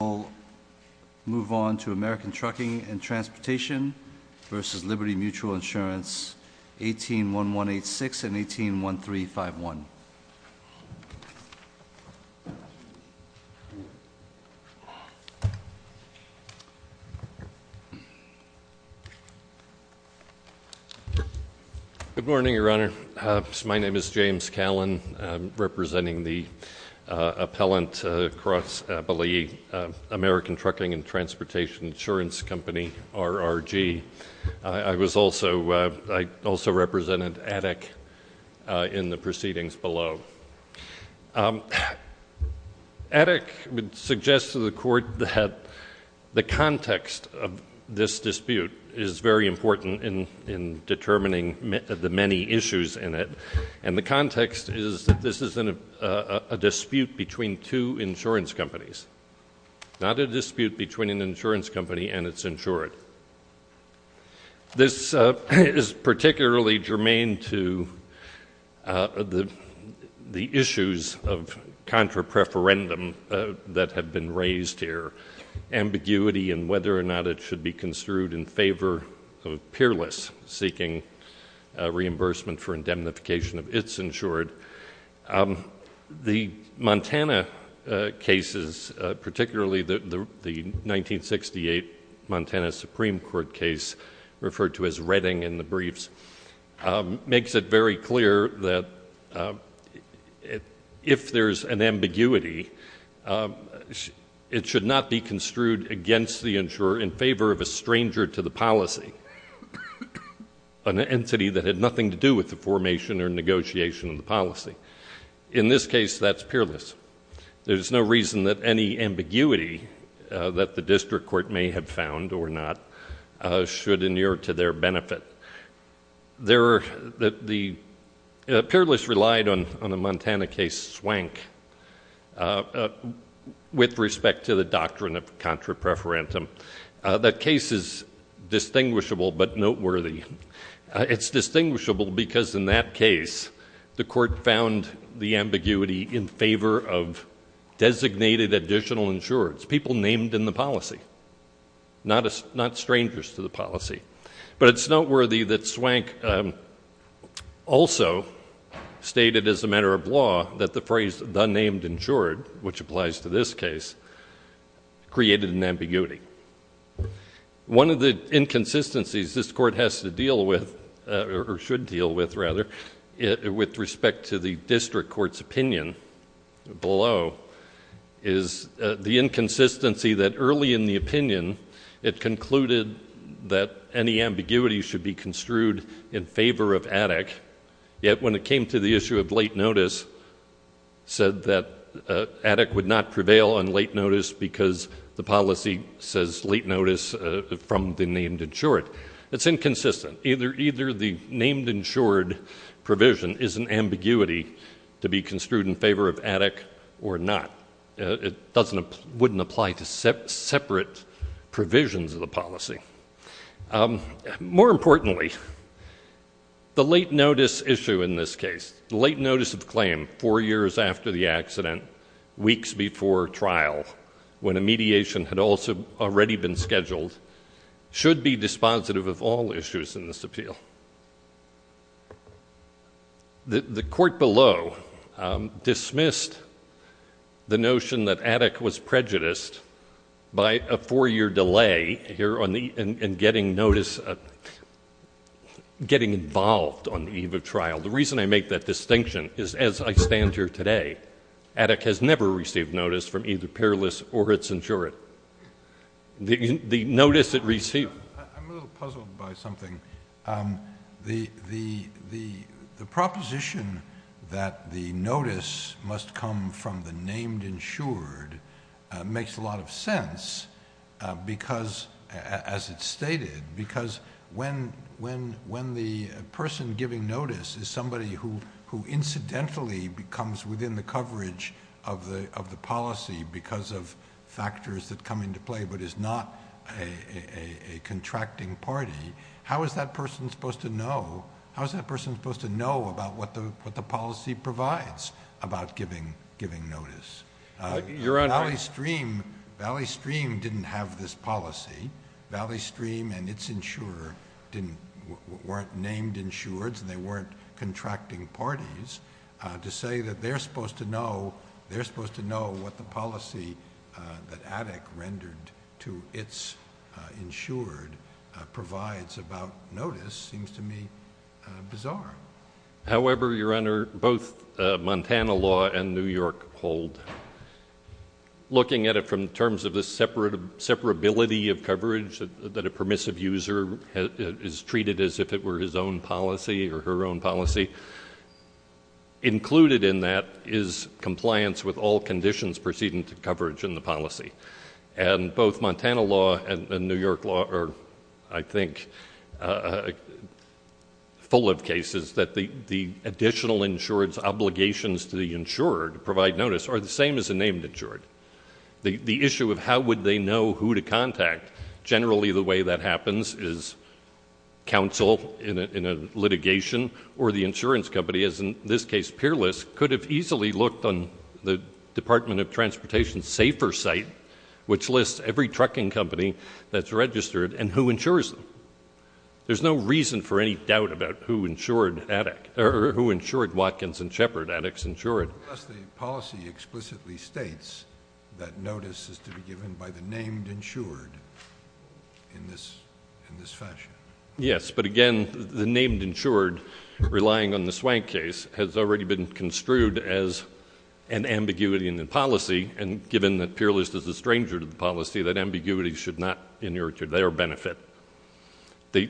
We'll move on to American Trucking and Transportation vs. Liberty Mutual Insurance, 181186 and 181351. Good morning, Your Honor. My name is James Callan, representing the appellant across, I believe, American Trucking and Transportation Insurance Company, RRG. I was also, I also represented Attic in the proceedings below. Attic would suggest to the Court that the context of this dispute is very important in determining the many issues in it. And the context is that this is a dispute between two insurance companies, not a dispute between an insurance company and its insured. This is particularly germane to the issues of contra-preferendum that have been raised here. Ambiguity in whether or not it should be construed in favor of peerless seeking reimbursement for indemnification of its insured. The Montana cases, particularly the 1968 Montana Supreme Court case referred to as Redding in the briefs, makes it very clear that if there's an ambiguity, it should not be construed against the insurer in favor of a stranger to the policy, an entity that had nothing to do with the formation or negotiation of the policy. In this case, that's peerless. There's no reason that any ambiguity that the district court may have found or not should inure to their benefit. Peerless relied on a Montana case, Swank, with respect to the doctrine of contra-preferendum. That case is distinguishable but noteworthy. It's distinguishable because in that case, the court found the ambiguity in favor of designated additional insureds, people named in the policy, not strangers to the policy. But it's noteworthy that Swank also stated as a matter of law that the phrase the named insured, which applies to this case, created an ambiguity. One of the inconsistencies this court has to deal with, or should deal with rather, with respect to the district court's opinion below, is the inconsistency that early in the opinion, it concluded that any ambiguity should be construed in favor of addict, yet when it came to the issue of late notice, said that addict would not prevail on late notice because the policy says late notice from the named insured, it's inconsistent. Either the named insured provision is an ambiguity to be construed in favor of addict or not. It wouldn't apply to separate provisions of the policy. More importantly, the late notice issue in this case, the late notice of claim four years after the accident, weeks before trial, when a mediation had already been scheduled, should be dispositive of all issues in this appeal. The court below dismissed the notion that addict was prejudiced by a four-year delay here in getting notice, getting involved on the eve of trial. The reason I make that distinction is, as I stand here today, addict has never received notice from either peerless or its insured. The notice it received... I'm a little puzzled by something. The proposition that the notice must come from the named insured makes a lot of sense because, as it's stated, because when the person giving notice is somebody who incidentally becomes within the coverage of the policy because of factors that come into play but is not a contracting party, how is that person supposed to know about what the policy provides about giving notice? Your Honor... Valley Stream didn't have this policy. Valley Stream and its insurer weren't named insureds and they weren't contracting parties. To say that they're supposed to know what the policy that addict rendered to its insured provides about notice seems to me bizarre. However, Your Honor, both Montana law and New York hold. Looking at it from the terms of the separability of coverage that a permissive user is treated as if it were his own policy or her own policy, included in that is compliance with all conditions preceding to coverage in the policy. Both Montana law and New York law are, I think, full of cases that the additional insured's obligations to the insurer to provide notice are the same as a named insured. The issue of how would they know who to contact, generally the way that happens is counsel in a litigation or the insurance company, as in this case Peerless, could have easily looked on the Department of Transportation's Safer site, which lists every trucking company that's registered and who insures them. There's no reason for any doubt about who insured Watkins and Shepard addicts insured. Thus, the policy explicitly states that notice is to be given by the named insured in this fashion. Yes. But again, the named insured relying on the swank case has already been construed as an ambiguity in the policy, and given that Peerless is a stranger to the policy, that ambiguity should not inure to their benefit. The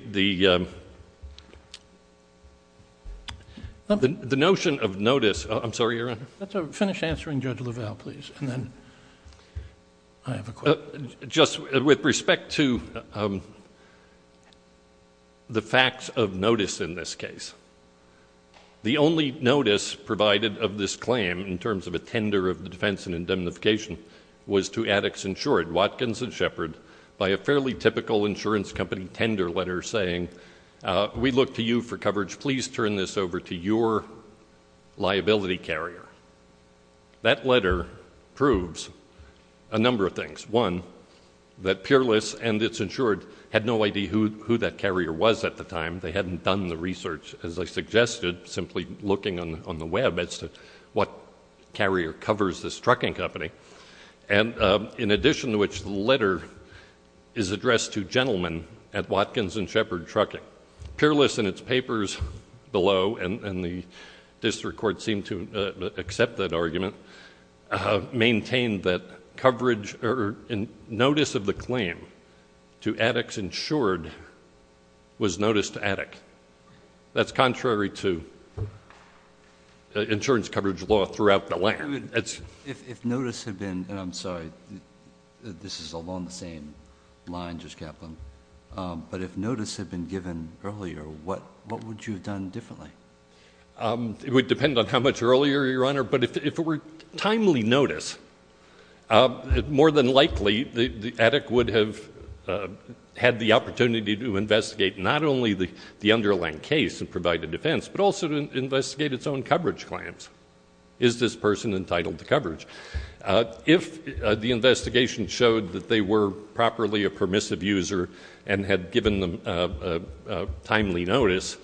notion of notice... I'm sorry, Your Honor. Finish answering Judge LaValle, please, and then I have a question. With respect to the facts of notice in this case, the only notice provided of this claim in terms of a tender of the defense and indemnification was to addicts insured, Watkins and Shepard, by a fairly typical insurance company tender letter saying, we look to you for coverage. Please turn this over to your liability carrier. That letter proves a number of things. One, that Peerless and its insured had no idea who that carrier was at the time. They hadn't done the research as I suggested, simply looking on the web as to what carrier covers this trucking company. In addition to which, the letter is addressed to gentlemen at Watkins and Shepard Trucking. Peerless and its papers below, and the district court seemed to accept that argument, maintained that notice of the claim to addicts insured was notice to addict. That's contrary to insurance coverage law throughout the land. If notice had been, and I'm sorry, this is along the same line, Judge Kaplan, but if notice had been given earlier, what would you have done differently? It would depend on how much earlier, Your Honor, but if it were timely notice, more than likely the addict would have had the opportunity to investigate not only the underlying case and provide a defense, but also to investigate its own coverage claims. Is this person entitled to coverage? If the investigation showed that they were properly a permissive user and had given them timely notice,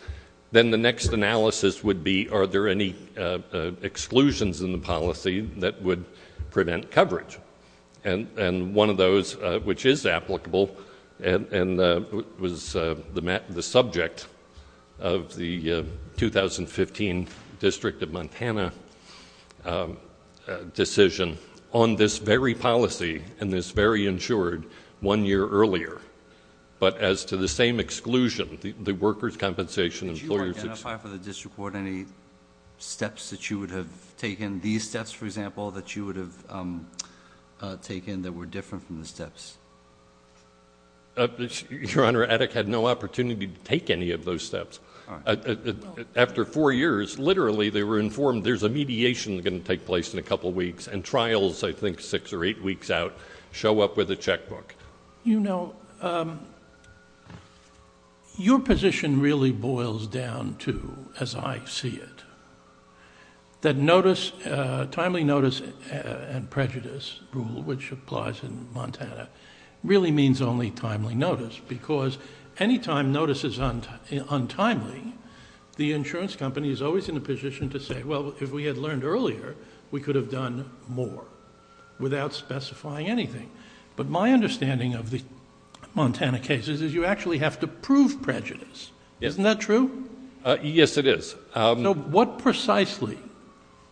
then the next analysis would be, are there any exclusions in the policy that would prevent coverage? One of those, which is applicable, and was the subject of the 2015 District of Montana decision on this very policy and this very insured one year earlier, but as to the same exclusion, the workers' compensation and employers'... Did you identify for the district court any steps that you would have taken, these steps for example, that you would have taken that were different from the steps? Your Honor, addict had no opportunity to take any of those steps. After four years, literally they were informed there's a mediation that's going to take place in a couple of weeks, and trials, I think six or eight weeks out, show up with a checkbook. You know, your position really boils down to, as I see it, that timely notice and prejudice rule, which applies in Montana, really means only timely notice, because anytime notice is untimely, the insurance company is always in a position to say, well, if we had learned earlier, we could have done more, without specifying anything. But my understanding of the Montana cases is you actually have to prove prejudice. Isn't that true? Yes, it is. What precisely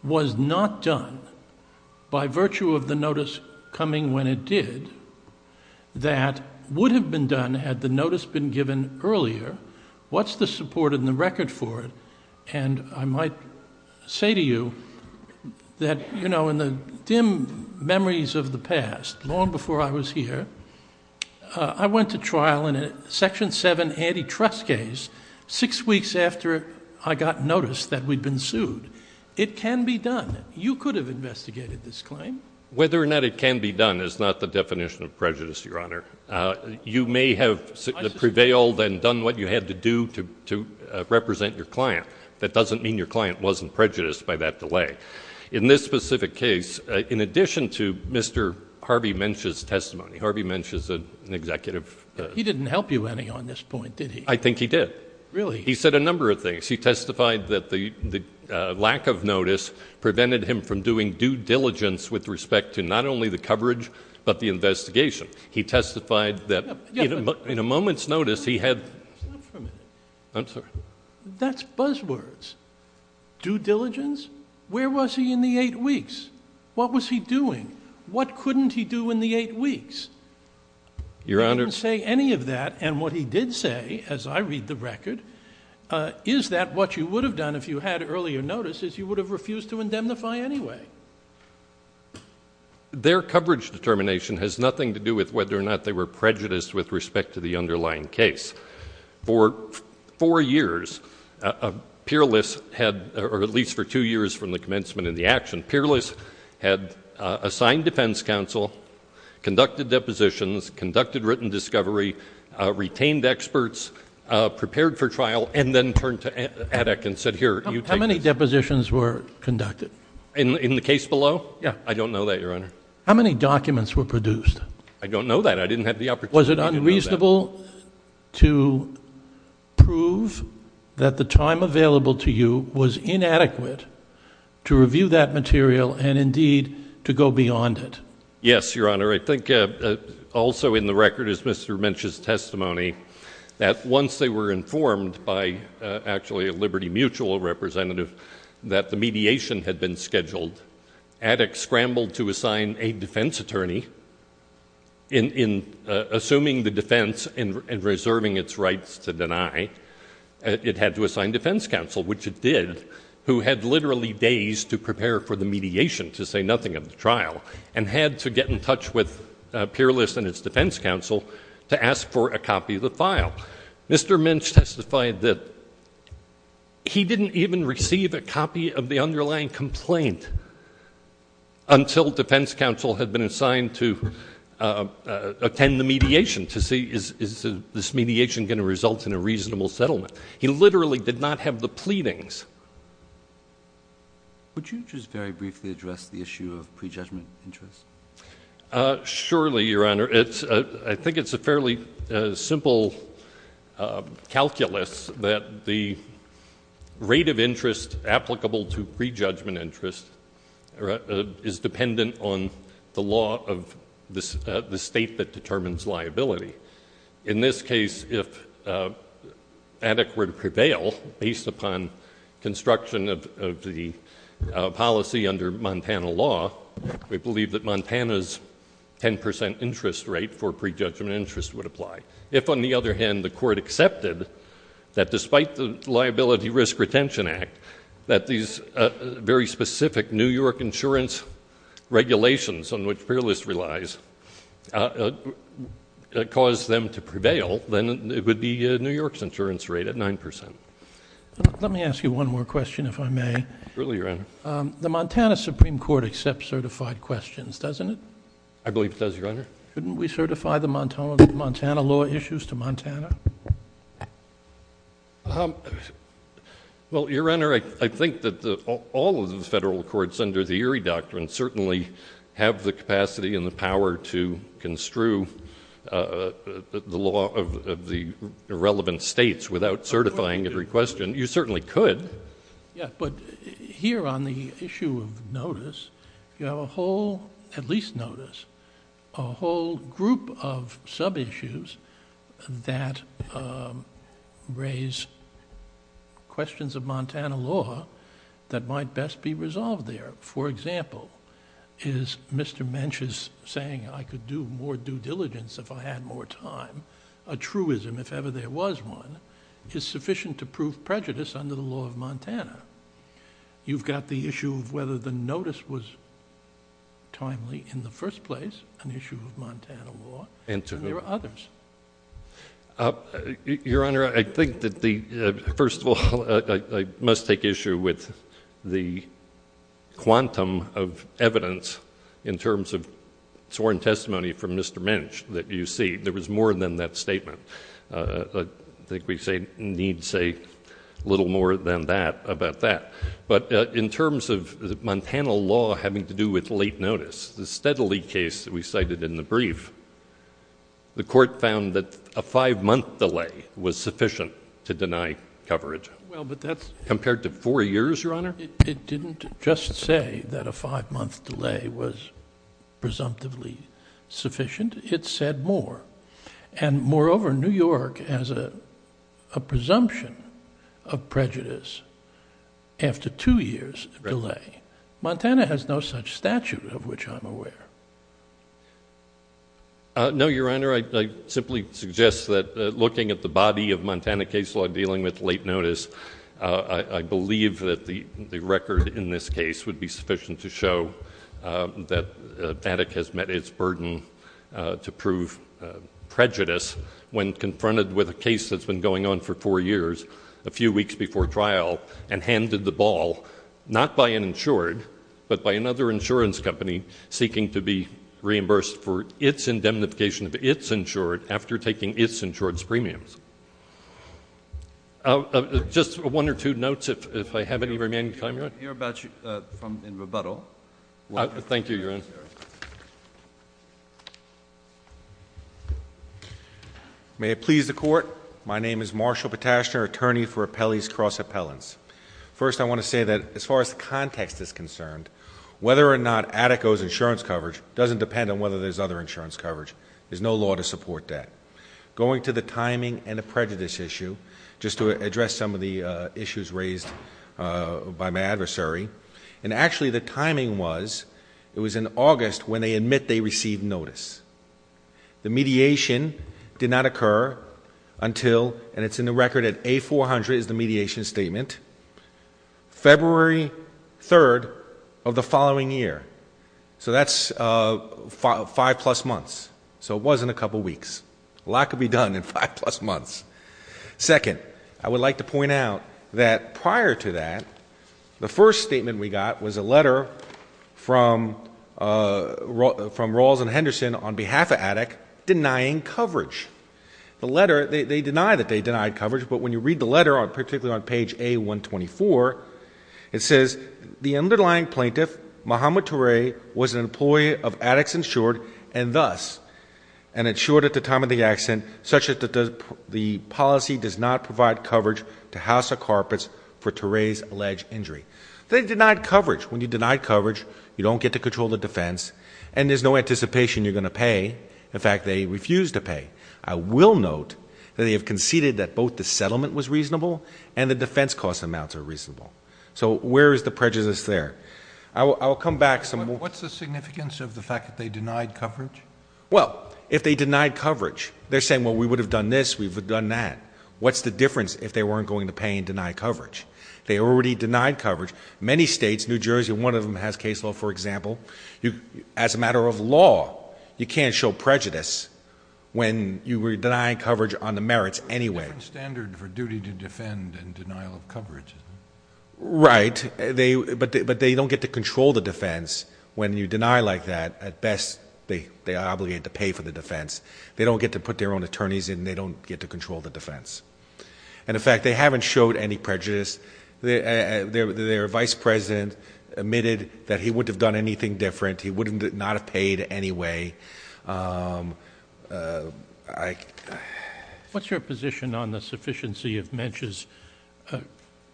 was not done, by virtue of the notice coming when it did, that would have been done had the notice been given earlier? What's the support and the record for it? And I might say to you that, you know, in the dim memories of the past, long before I was here, I went to trial in a Section 7 antitrust case six weeks after I got notice that we'd been sued. It can be done. You could have investigated this claim. Whether or not it can be done is not the definition of prejudice, Your Honor. You may have prevailed and done what you had to do to represent your client. That doesn't mean your client wasn't prejudiced by that delay. In this specific case, in addition to Mr. Harvey Mensch's testimony, Harvey Mensch is an executive. He didn't help you any on this point, did he? I think he did. Really? He said a number of things. He testified that the lack of notice prevented him from doing due diligence with respect to not only the coverage, but the investigation. He testified that in a moment's notice, he had... Stop for a minute. I'm sorry. That's buzzwords. Due diligence? Where was he in the eight weeks? What was he doing? What couldn't he do in the eight weeks? Your Honor... He didn't say any of that. And what he did say, as I read the record, is that what you would have done if you had earlier notice is you would have refused to indemnify anyway. So, their coverage determination has nothing to do with whether or not they were prejudiced with respect to the underlying case. For four years, Peerless had, or at least for two years from the commencement of the action, Peerless had assigned defense counsel, conducted depositions, conducted written discovery, retained experts, prepared for trial, and then turned to Addick and said, here, you take this. How many depositions were conducted? In the case below? Yeah. I don't know that, Your Honor. How many documents were produced? I don't know that. I didn't have the opportunity to know that. Was it unreasonable to prove that the time available to you was inadequate to review that material and, indeed, to go beyond it? Yes, Your Honor. I think also in the record is Mr. Minch's testimony that once they were informed by actually a Liberty Mutual representative that the mediation had been scheduled, Addick scrambled to assign a defense attorney. In assuming the defense and reserving its rights to deny, it had to assign defense counsel, which it did, who had literally days to prepare for the mediation, to say nothing of the trial, and had to get in touch with Peerless and its defense counsel to ask for a copy of the file. Now, Mr. Minch testified that he didn't even receive a copy of the underlying complaint until defense counsel had been assigned to attend the mediation to see is this mediation going to result in a reasonable settlement. He literally did not have the pleadings. Would you just very briefly address the issue of prejudgment interest? Surely, Your Honor. I think it's a fairly simple calculus that the rate of interest applicable to prejudgment interest is dependent on the law of the state that determines liability. In this case, if Addick were to prevail based upon construction of the policy under Montana law, we believe that Montana's 10 percent interest rate for prejudgment interest would apply. If, on the other hand, the court accepted that despite the Liability Risk Retention Act that these very specific New York insurance regulations on which Peerless relies caused them to prevail, then it would be New York's insurance rate at 9 percent. Let me ask you one more question, if I may. Surely, Your Honor. The Montana Supreme Court accepts certified questions, doesn't it? I believe it does, Your Honor. Couldn't we certify the Montana law issues to Montana? Well, Your Honor, I think that all of the federal courts under the Erie Doctrine certainly have the capacity and the power to construe the law of the relevant states without certifying every question. You certainly could. Yeah, but here on the issue of notice, you have a whole, at least notice, a whole group of sub-issues that raise questions of Montana law that might best be resolved there. For example, is Mr. Mench's saying I could do more due diligence if I had more time a Montana? You've got the issue of whether the notice was timely in the first place, an issue of Montana law, and there are others. Your Honor, I think that the... First of all, I must take issue with the quantum of evidence in terms of sworn testimony from Mr. Mench that you see. There was more than that statement. I think we need to say a little more than that about that. But in terms of the Montana law having to do with late notice, the Steadley case that we cited in the brief, the court found that a five-month delay was sufficient to deny Well, but that's... Compared to four years, Your Honor? It didn't just say that a five-month delay was presumptively sufficient. It said more. And moreover, New York has a presumption of prejudice after two years' delay. Montana has no such statute of which I'm aware. No, Your Honor, I simply suggest that looking at the body of Montana case law dealing with late notice, I believe that the record in this case would be sufficient to prove prejudice when confronted with a case that's been going on for four years, a few weeks before trial, and handed the ball, not by an insured, but by another insurance company seeking to be reimbursed for its indemnification of its insured after taking its insured's premiums. Just one or two notes, if I have any remaining time, Your Honor. We can hear about you in rebuttal. Thank you, Your Honor. Thank you, Your Honor. May it please the Court, my name is Marshall Petashner, attorney for Appellee's Cross Appellants. First I want to say that as far as context is concerned, whether or not Attico's insurance coverage doesn't depend on whether there's other insurance coverage. There's no law to support that. Going to the timing and the prejudice issue, just to address some of the issues raised by my adversary, and actually the timing was, it was in August when they admit they received notice. The mediation did not occur until, and it's in the record at A400 is the mediation statement, February 3rd of the following year. So that's five plus months. So it was in a couple weeks. A lot could be done in five plus months. Second, I would like to point out that prior to that, the first statement we got was a letter from Rawls and Henderson on behalf of Attic denying coverage. The letter, they deny that they denied coverage, but when you read the letter, particularly on page A124, it says, the underlying plaintiff, Muhammad Ture, was an employee of Attic's and thus, and it's short at the time of the accident, such that the policy does not provide coverage to House of Carpets for Ture's alleged injury. They denied coverage. When you deny coverage, you don't get to control the defense and there's no anticipation you're going to pay. In fact, they refused to pay. I will note that they have conceded that both the settlement was reasonable and the defense cost amounts are reasonable. So where is the prejudice there? I'll come back some more. What's the significance of the fact that they denied coverage? Well, if they denied coverage, they're saying, well, we would have done this, we would have done that. What's the difference if they weren't going to pay and deny coverage? They already denied coverage. Many states, New Jersey, one of them has case law, for example. As a matter of law, you can't show prejudice when you were denying coverage on the merits anyway. It's a different standard for duty to defend and denial of coverage, isn't it? Right. But they don't get to control the defense. When you deny like that, at best, they are obligated to pay for the defense. They don't get to put their own attorneys in and they don't get to control the defense. And in fact, they haven't showed any prejudice. Their vice president admitted that he wouldn't have done anything different. He would not have paid anyway. What's your position on the sufficiency of Mench's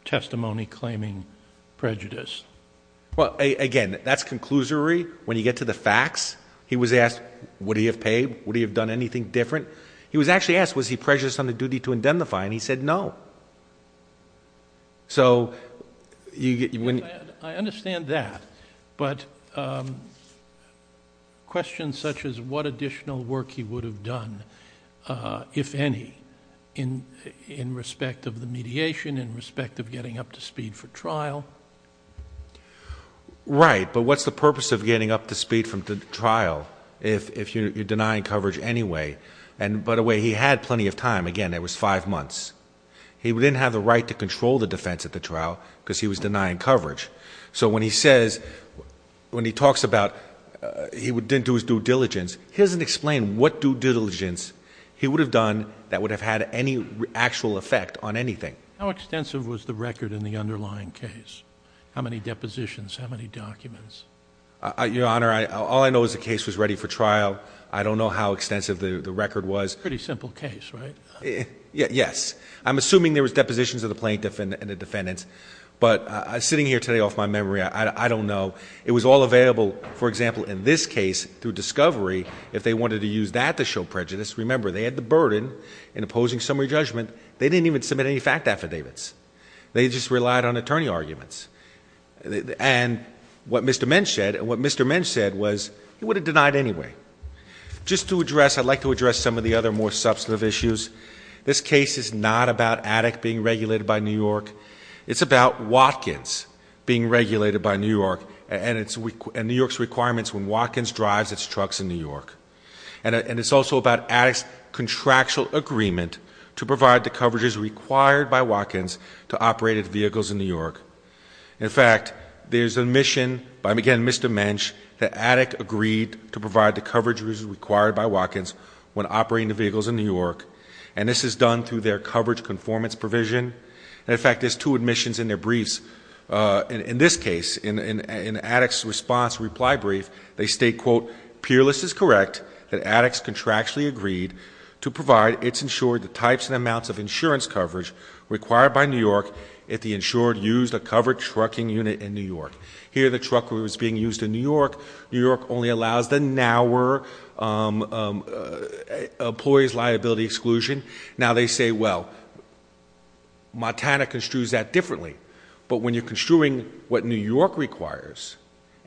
testimony claiming prejudice? Well, again, that's conclusory. When you get to the facts, he was asked, would he have paid? Would he have done anything different? He was actually asked, was he prejudiced on the duty to indemnify? And he said no. I understand that, but questions such as what additional work he would have done, if any, in respect of the mediation, in respect of getting up to speed for trial? Right, but what's the purpose of getting up to speed from the trial if you're denying coverage anyway? And by the way, he had plenty of time. Again, it was five months. He didn't have the right to control the defense at the trial because he was denying coverage. So when he says, when he talks about he didn't do his due diligence, he doesn't explain what due diligence he would have done that would have had any actual effect on anything. How extensive was the record in the underlying case? How many depositions? How many documents? Your Honor, all I know is the case was ready for trial. I don't know how extensive the record was. Pretty simple case, right? Yes. I'm assuming there was depositions of the plaintiff and the defendants, but sitting here today off my memory, I don't know. It was all available, for example, in this case through discovery if they wanted to use that to show prejudice. Remember, they had the burden in opposing summary judgment. They didn't even submit any fact affidavits. They just relied on attorney arguments. And what Mr. Mensch said, and what Mr. Mensch said was, he would have denied anyway. Just to address, I'd like to address some of the other more substantive issues. This case is not about ADEC being regulated by New York. It's about Watkins being regulated by New York and New York's requirements when Watkins drives its trucks in New York. And it's also about ADEC's contractual agreement to provide the coverages required by Watkins to operate at vehicles in New York. In fact, there's an admission by, again, Mr. Mensch, that ADEC agreed to provide the coverages required by Watkins when operating the vehicles in New York. And this is done through their coverage conformance provision. And in fact, there's two admissions in their briefs. In this case, in ADEC's response reply brief, they state, quote, peerless is correct, that ADEC's contractually agreed to provide its insured types and insurance coverage required by New York if the insured used a covered trucking unit in New York. Here, the truck was being used in New York. New York only allows the nower employee's liability exclusion. Now they say, well, Montana construes that differently. But when you're construing what New York requires,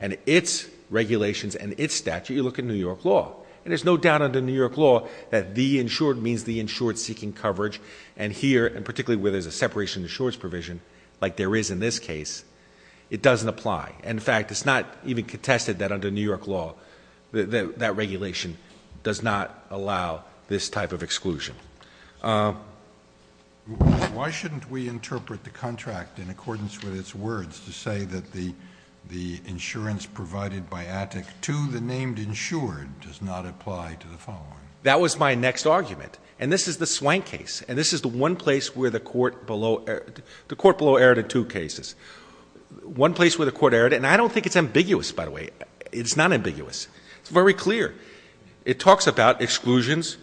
and its regulations, and its statute, you look at New York law. And there's no doubt under New York law that the insured means the insured seeking coverage. And here, and particularly where there's a separation of insurance provision, like there is in this case, it doesn't apply. In fact, it's not even contested that under New York law, that regulation does not allow this type of exclusion. Why shouldn't we interpret the contract in accordance with its words to say that the insurance provided by ADEC to the named insured does not apply to the following? That was my next argument. And this is the Swank case. And this is the one place where the court below erred in two cases. One place where the court erred, and I don't think it's ambiguous, by the way. It's not ambiguous. It's very clear. It talks about exclusions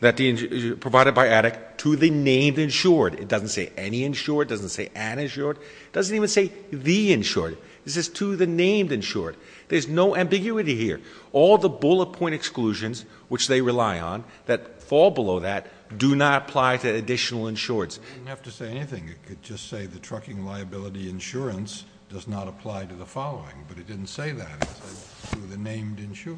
provided by ADEC to the named insured. It doesn't say any insured, it doesn't say an insured, it doesn't even say the insured. This is to the named insured. There's no ambiguity here. All the bullet point exclusions, which they rely on, that fall below that, do not apply to additional insureds. You didn't have to say anything. You could just say the trucking liability insurance does not apply to the following. But it didn't say that, it said to the named insured.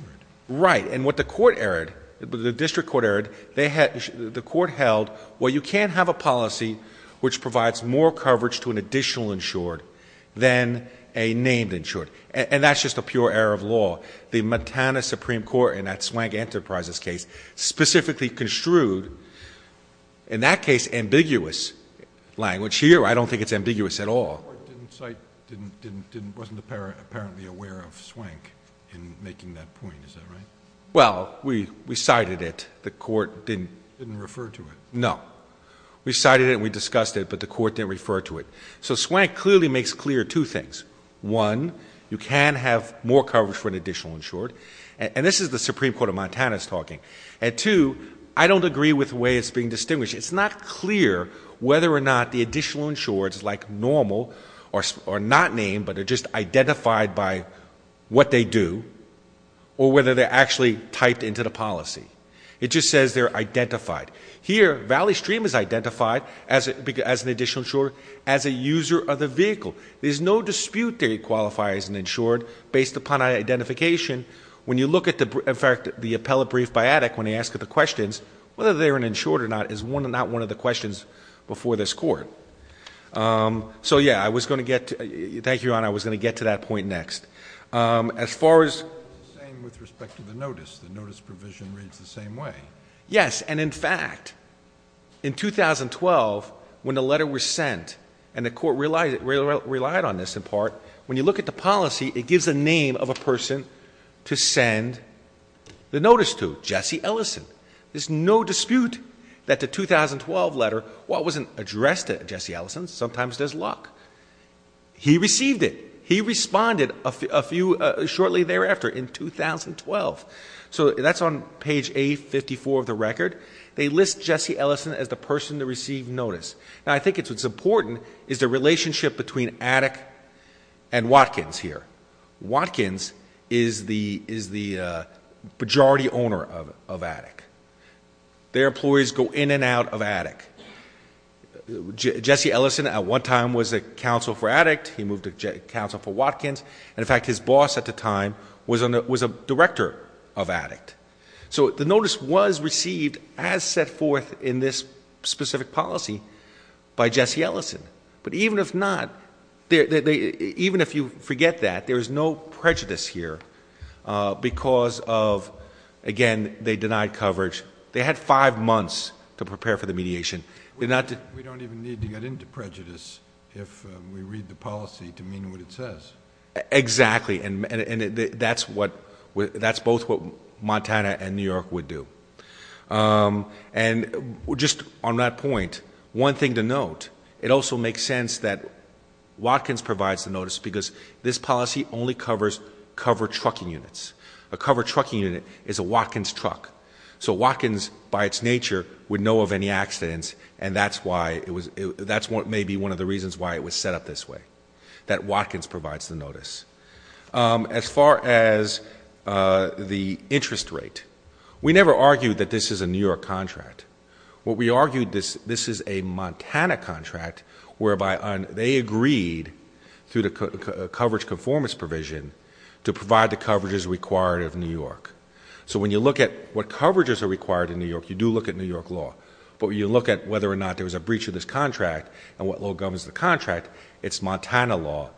Right, and what the court erred, the district court erred, the court held, well, you can't have a policy which provides more coverage to an additional insured than a named insured. And that's just a pure error of law. The Montana Supreme Court, in that Swank Enterprises case, specifically construed, in that case, ambiguous language. Here, I don't think it's ambiguous at all. The court didn't cite, wasn't apparently aware of Swank in making that point, is that right? Well, we cited it. The court didn't- Didn't refer to it. No. We cited it and we discussed it, but the court didn't refer to it. So Swank clearly makes clear two things. One, you can have more coverage for an additional insured. And this is the Supreme Court of Montana's talking. And two, I don't agree with the way it's being distinguished. It's not clear whether or not the additional insureds, like normal, are not named, but are just identified by what they do, or whether they're actually typed into the policy. It just says they're identified. Here, Valley Stream is identified as an additional insured as a user of the vehicle. There's no dispute they qualify as an insured based upon identification. When you look at the, in fact, the appellate brief by Attic when they ask the questions, whether they're an insured or not is not one of the questions before this court. So yeah, I was going to get, thank you, Your Honor, I was going to get to that point next. As far as- It's the same with respect to the notice. The notice provision reads the same way. Yes, and in fact, in 2012, when the letter was sent, and the court relied on this in part, when you look at the policy, it gives the name of a person to send the notice to, Jesse Ellison. There's no dispute that the 2012 letter, while it wasn't addressed to Jesse Ellison, sometimes there's luck. He received it. He responded shortly thereafter in 2012. So that's on page A54 of the record. They list Jesse Ellison as the person to receive notice. Now, I think it's important is the relationship between Attic and Watkins here. Watkins is the majority owner of Attic. Their employees go in and out of Attic. Jesse Ellison at one time was a counsel for Attic. He moved to counsel for Watkins. And in fact, his boss at the time was a director of Attic. So the notice was received as set forth in this specific policy by Jesse Ellison. But even if not, even if you forget that, there is no prejudice here. Because of, again, they denied coverage. They had five months to prepare for the mediation. We don't even need to get into prejudice if we read the policy to mean what it says. Exactly, and that's both what Montana and New York would do. And just on that point, one thing to note, it also makes sense that Watkins provides the notice because this policy only covers covered trucking units. A covered trucking unit is a Watkins truck. So Watkins, by its nature, would know of any accidents. And that's maybe one of the reasons why it was set up this way, that Watkins provides the notice. As far as the interest rate, we never argued that this is a New York contract. What we argued, this is a Montana contract whereby they agreed, through the coverage conformance provision, to provide the coverages required of New York. So when you look at what coverages are required in New York, you do look at New York law. But when you look at whether or not there was a breach of this contract and what law governs the contract, it's Montana law.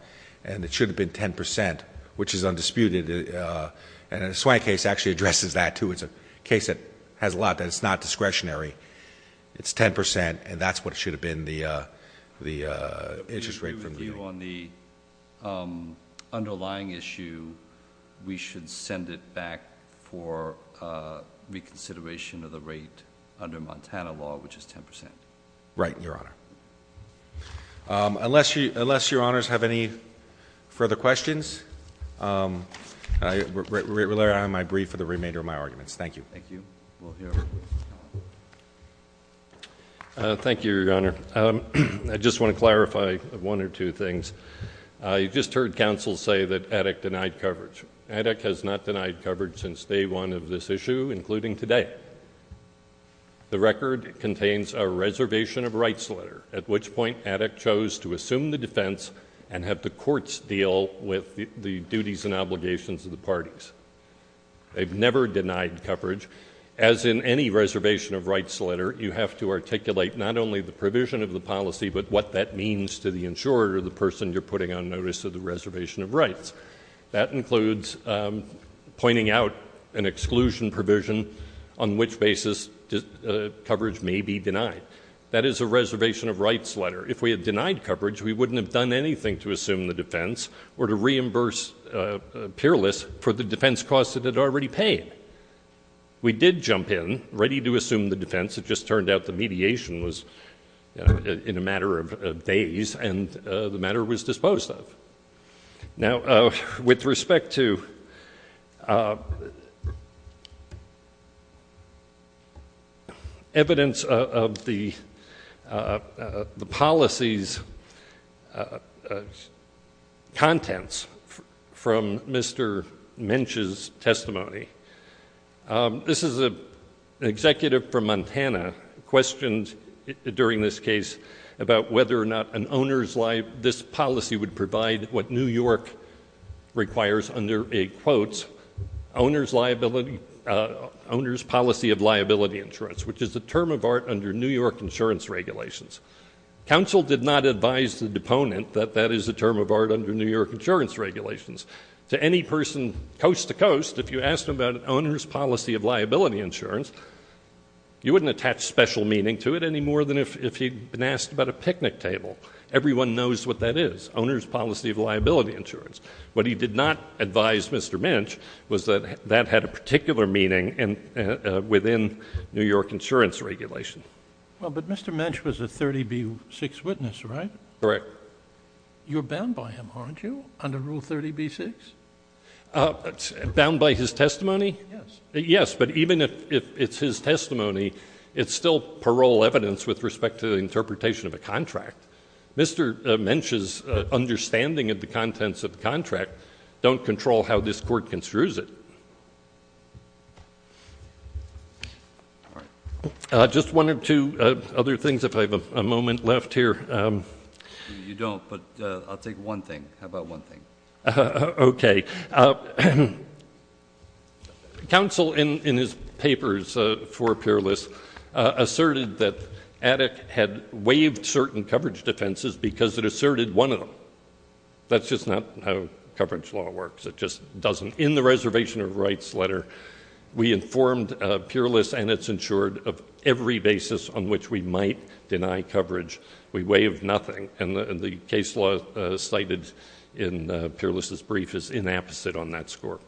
And it should have been 10%, which is undisputed. And the Swank case actually addresses that, too. It's a case that has a lot, that it's not discretionary. It's 10%, and that's what it should have been, the interest rate. We agree with you on the underlying issue. We should send it back for reconsideration of the rate under Montana law, which is 10%. Right, Your Honor. Unless Your Honors have any further questions, I rely on my brief for the remainder of my arguments. Thank you. Thank you. Thank you, Your Honor. I just want to clarify one or two things. You just heard counsel say that EDIC denied coverage. EDIC has not denied coverage since day one of this issue, including today. The record contains a reservation of rights letter, at which point EDIC chose to assume the defense and have the courts deal with the duties and obligations of the parties. They've never denied coverage. As in any reservation of rights letter, you have to articulate not only the provision of the policy, but what that means to the insurer or the person you're putting on notice of the reservation of rights. That includes pointing out an exclusion provision on which basis coverage may be denied. That is a reservation of rights letter. If we had denied coverage, we wouldn't have done anything to assume the defense or to reimburse peerless for the defense costs it had already paid. We did jump in, ready to assume the defense. It just turned out the mediation was in a matter of days, and the matter was disposed of. Now, with respect to evidence of the policy's contents from Mr. Minch's testimony, this is an executive from Montana, questioned during this case about whether or not an owner's policy of liability insurance would provide what New York requires under a, quote, owner's policy of liability insurance, which is a term of art under New York insurance regulations. Council did not advise the deponent that that is a term of art under New York insurance regulations. To any person coast to coast, if you asked them about an owner's policy of liability insurance, you wouldn't attach special meaning to it any more than if he'd been asked about a picnic table. Everyone knows what that is. Owner's policy of liability insurance. What he did not advise Mr. Minch was that that had a particular meaning within New York insurance regulation. Well, but Mr. Minch was a 30B6 witness, right? Correct. You're bound by him, aren't you, under Rule 30B6? Bound by his testimony? Yes. Yes, but even if it's his testimony, it's still parole evidence with respect to the interpretation of a contract. Mr. Minch's understanding of the contents of the contract don't control how this court construes it. Just one or two other things, if I have a moment left here. You don't, but I'll take one thing. How about one thing? Okay. Counsel, in his papers for Peerless, asserted that ADEC had waived certain coverage defenses because it asserted one of them. That's just not how coverage law works. It just doesn't. In the Reservation of Rights letter, we informed Peerless and its insured of every basis on which we might deny coverage. We waived nothing, and the case law cited in Peerless' brief is inapposite on that score.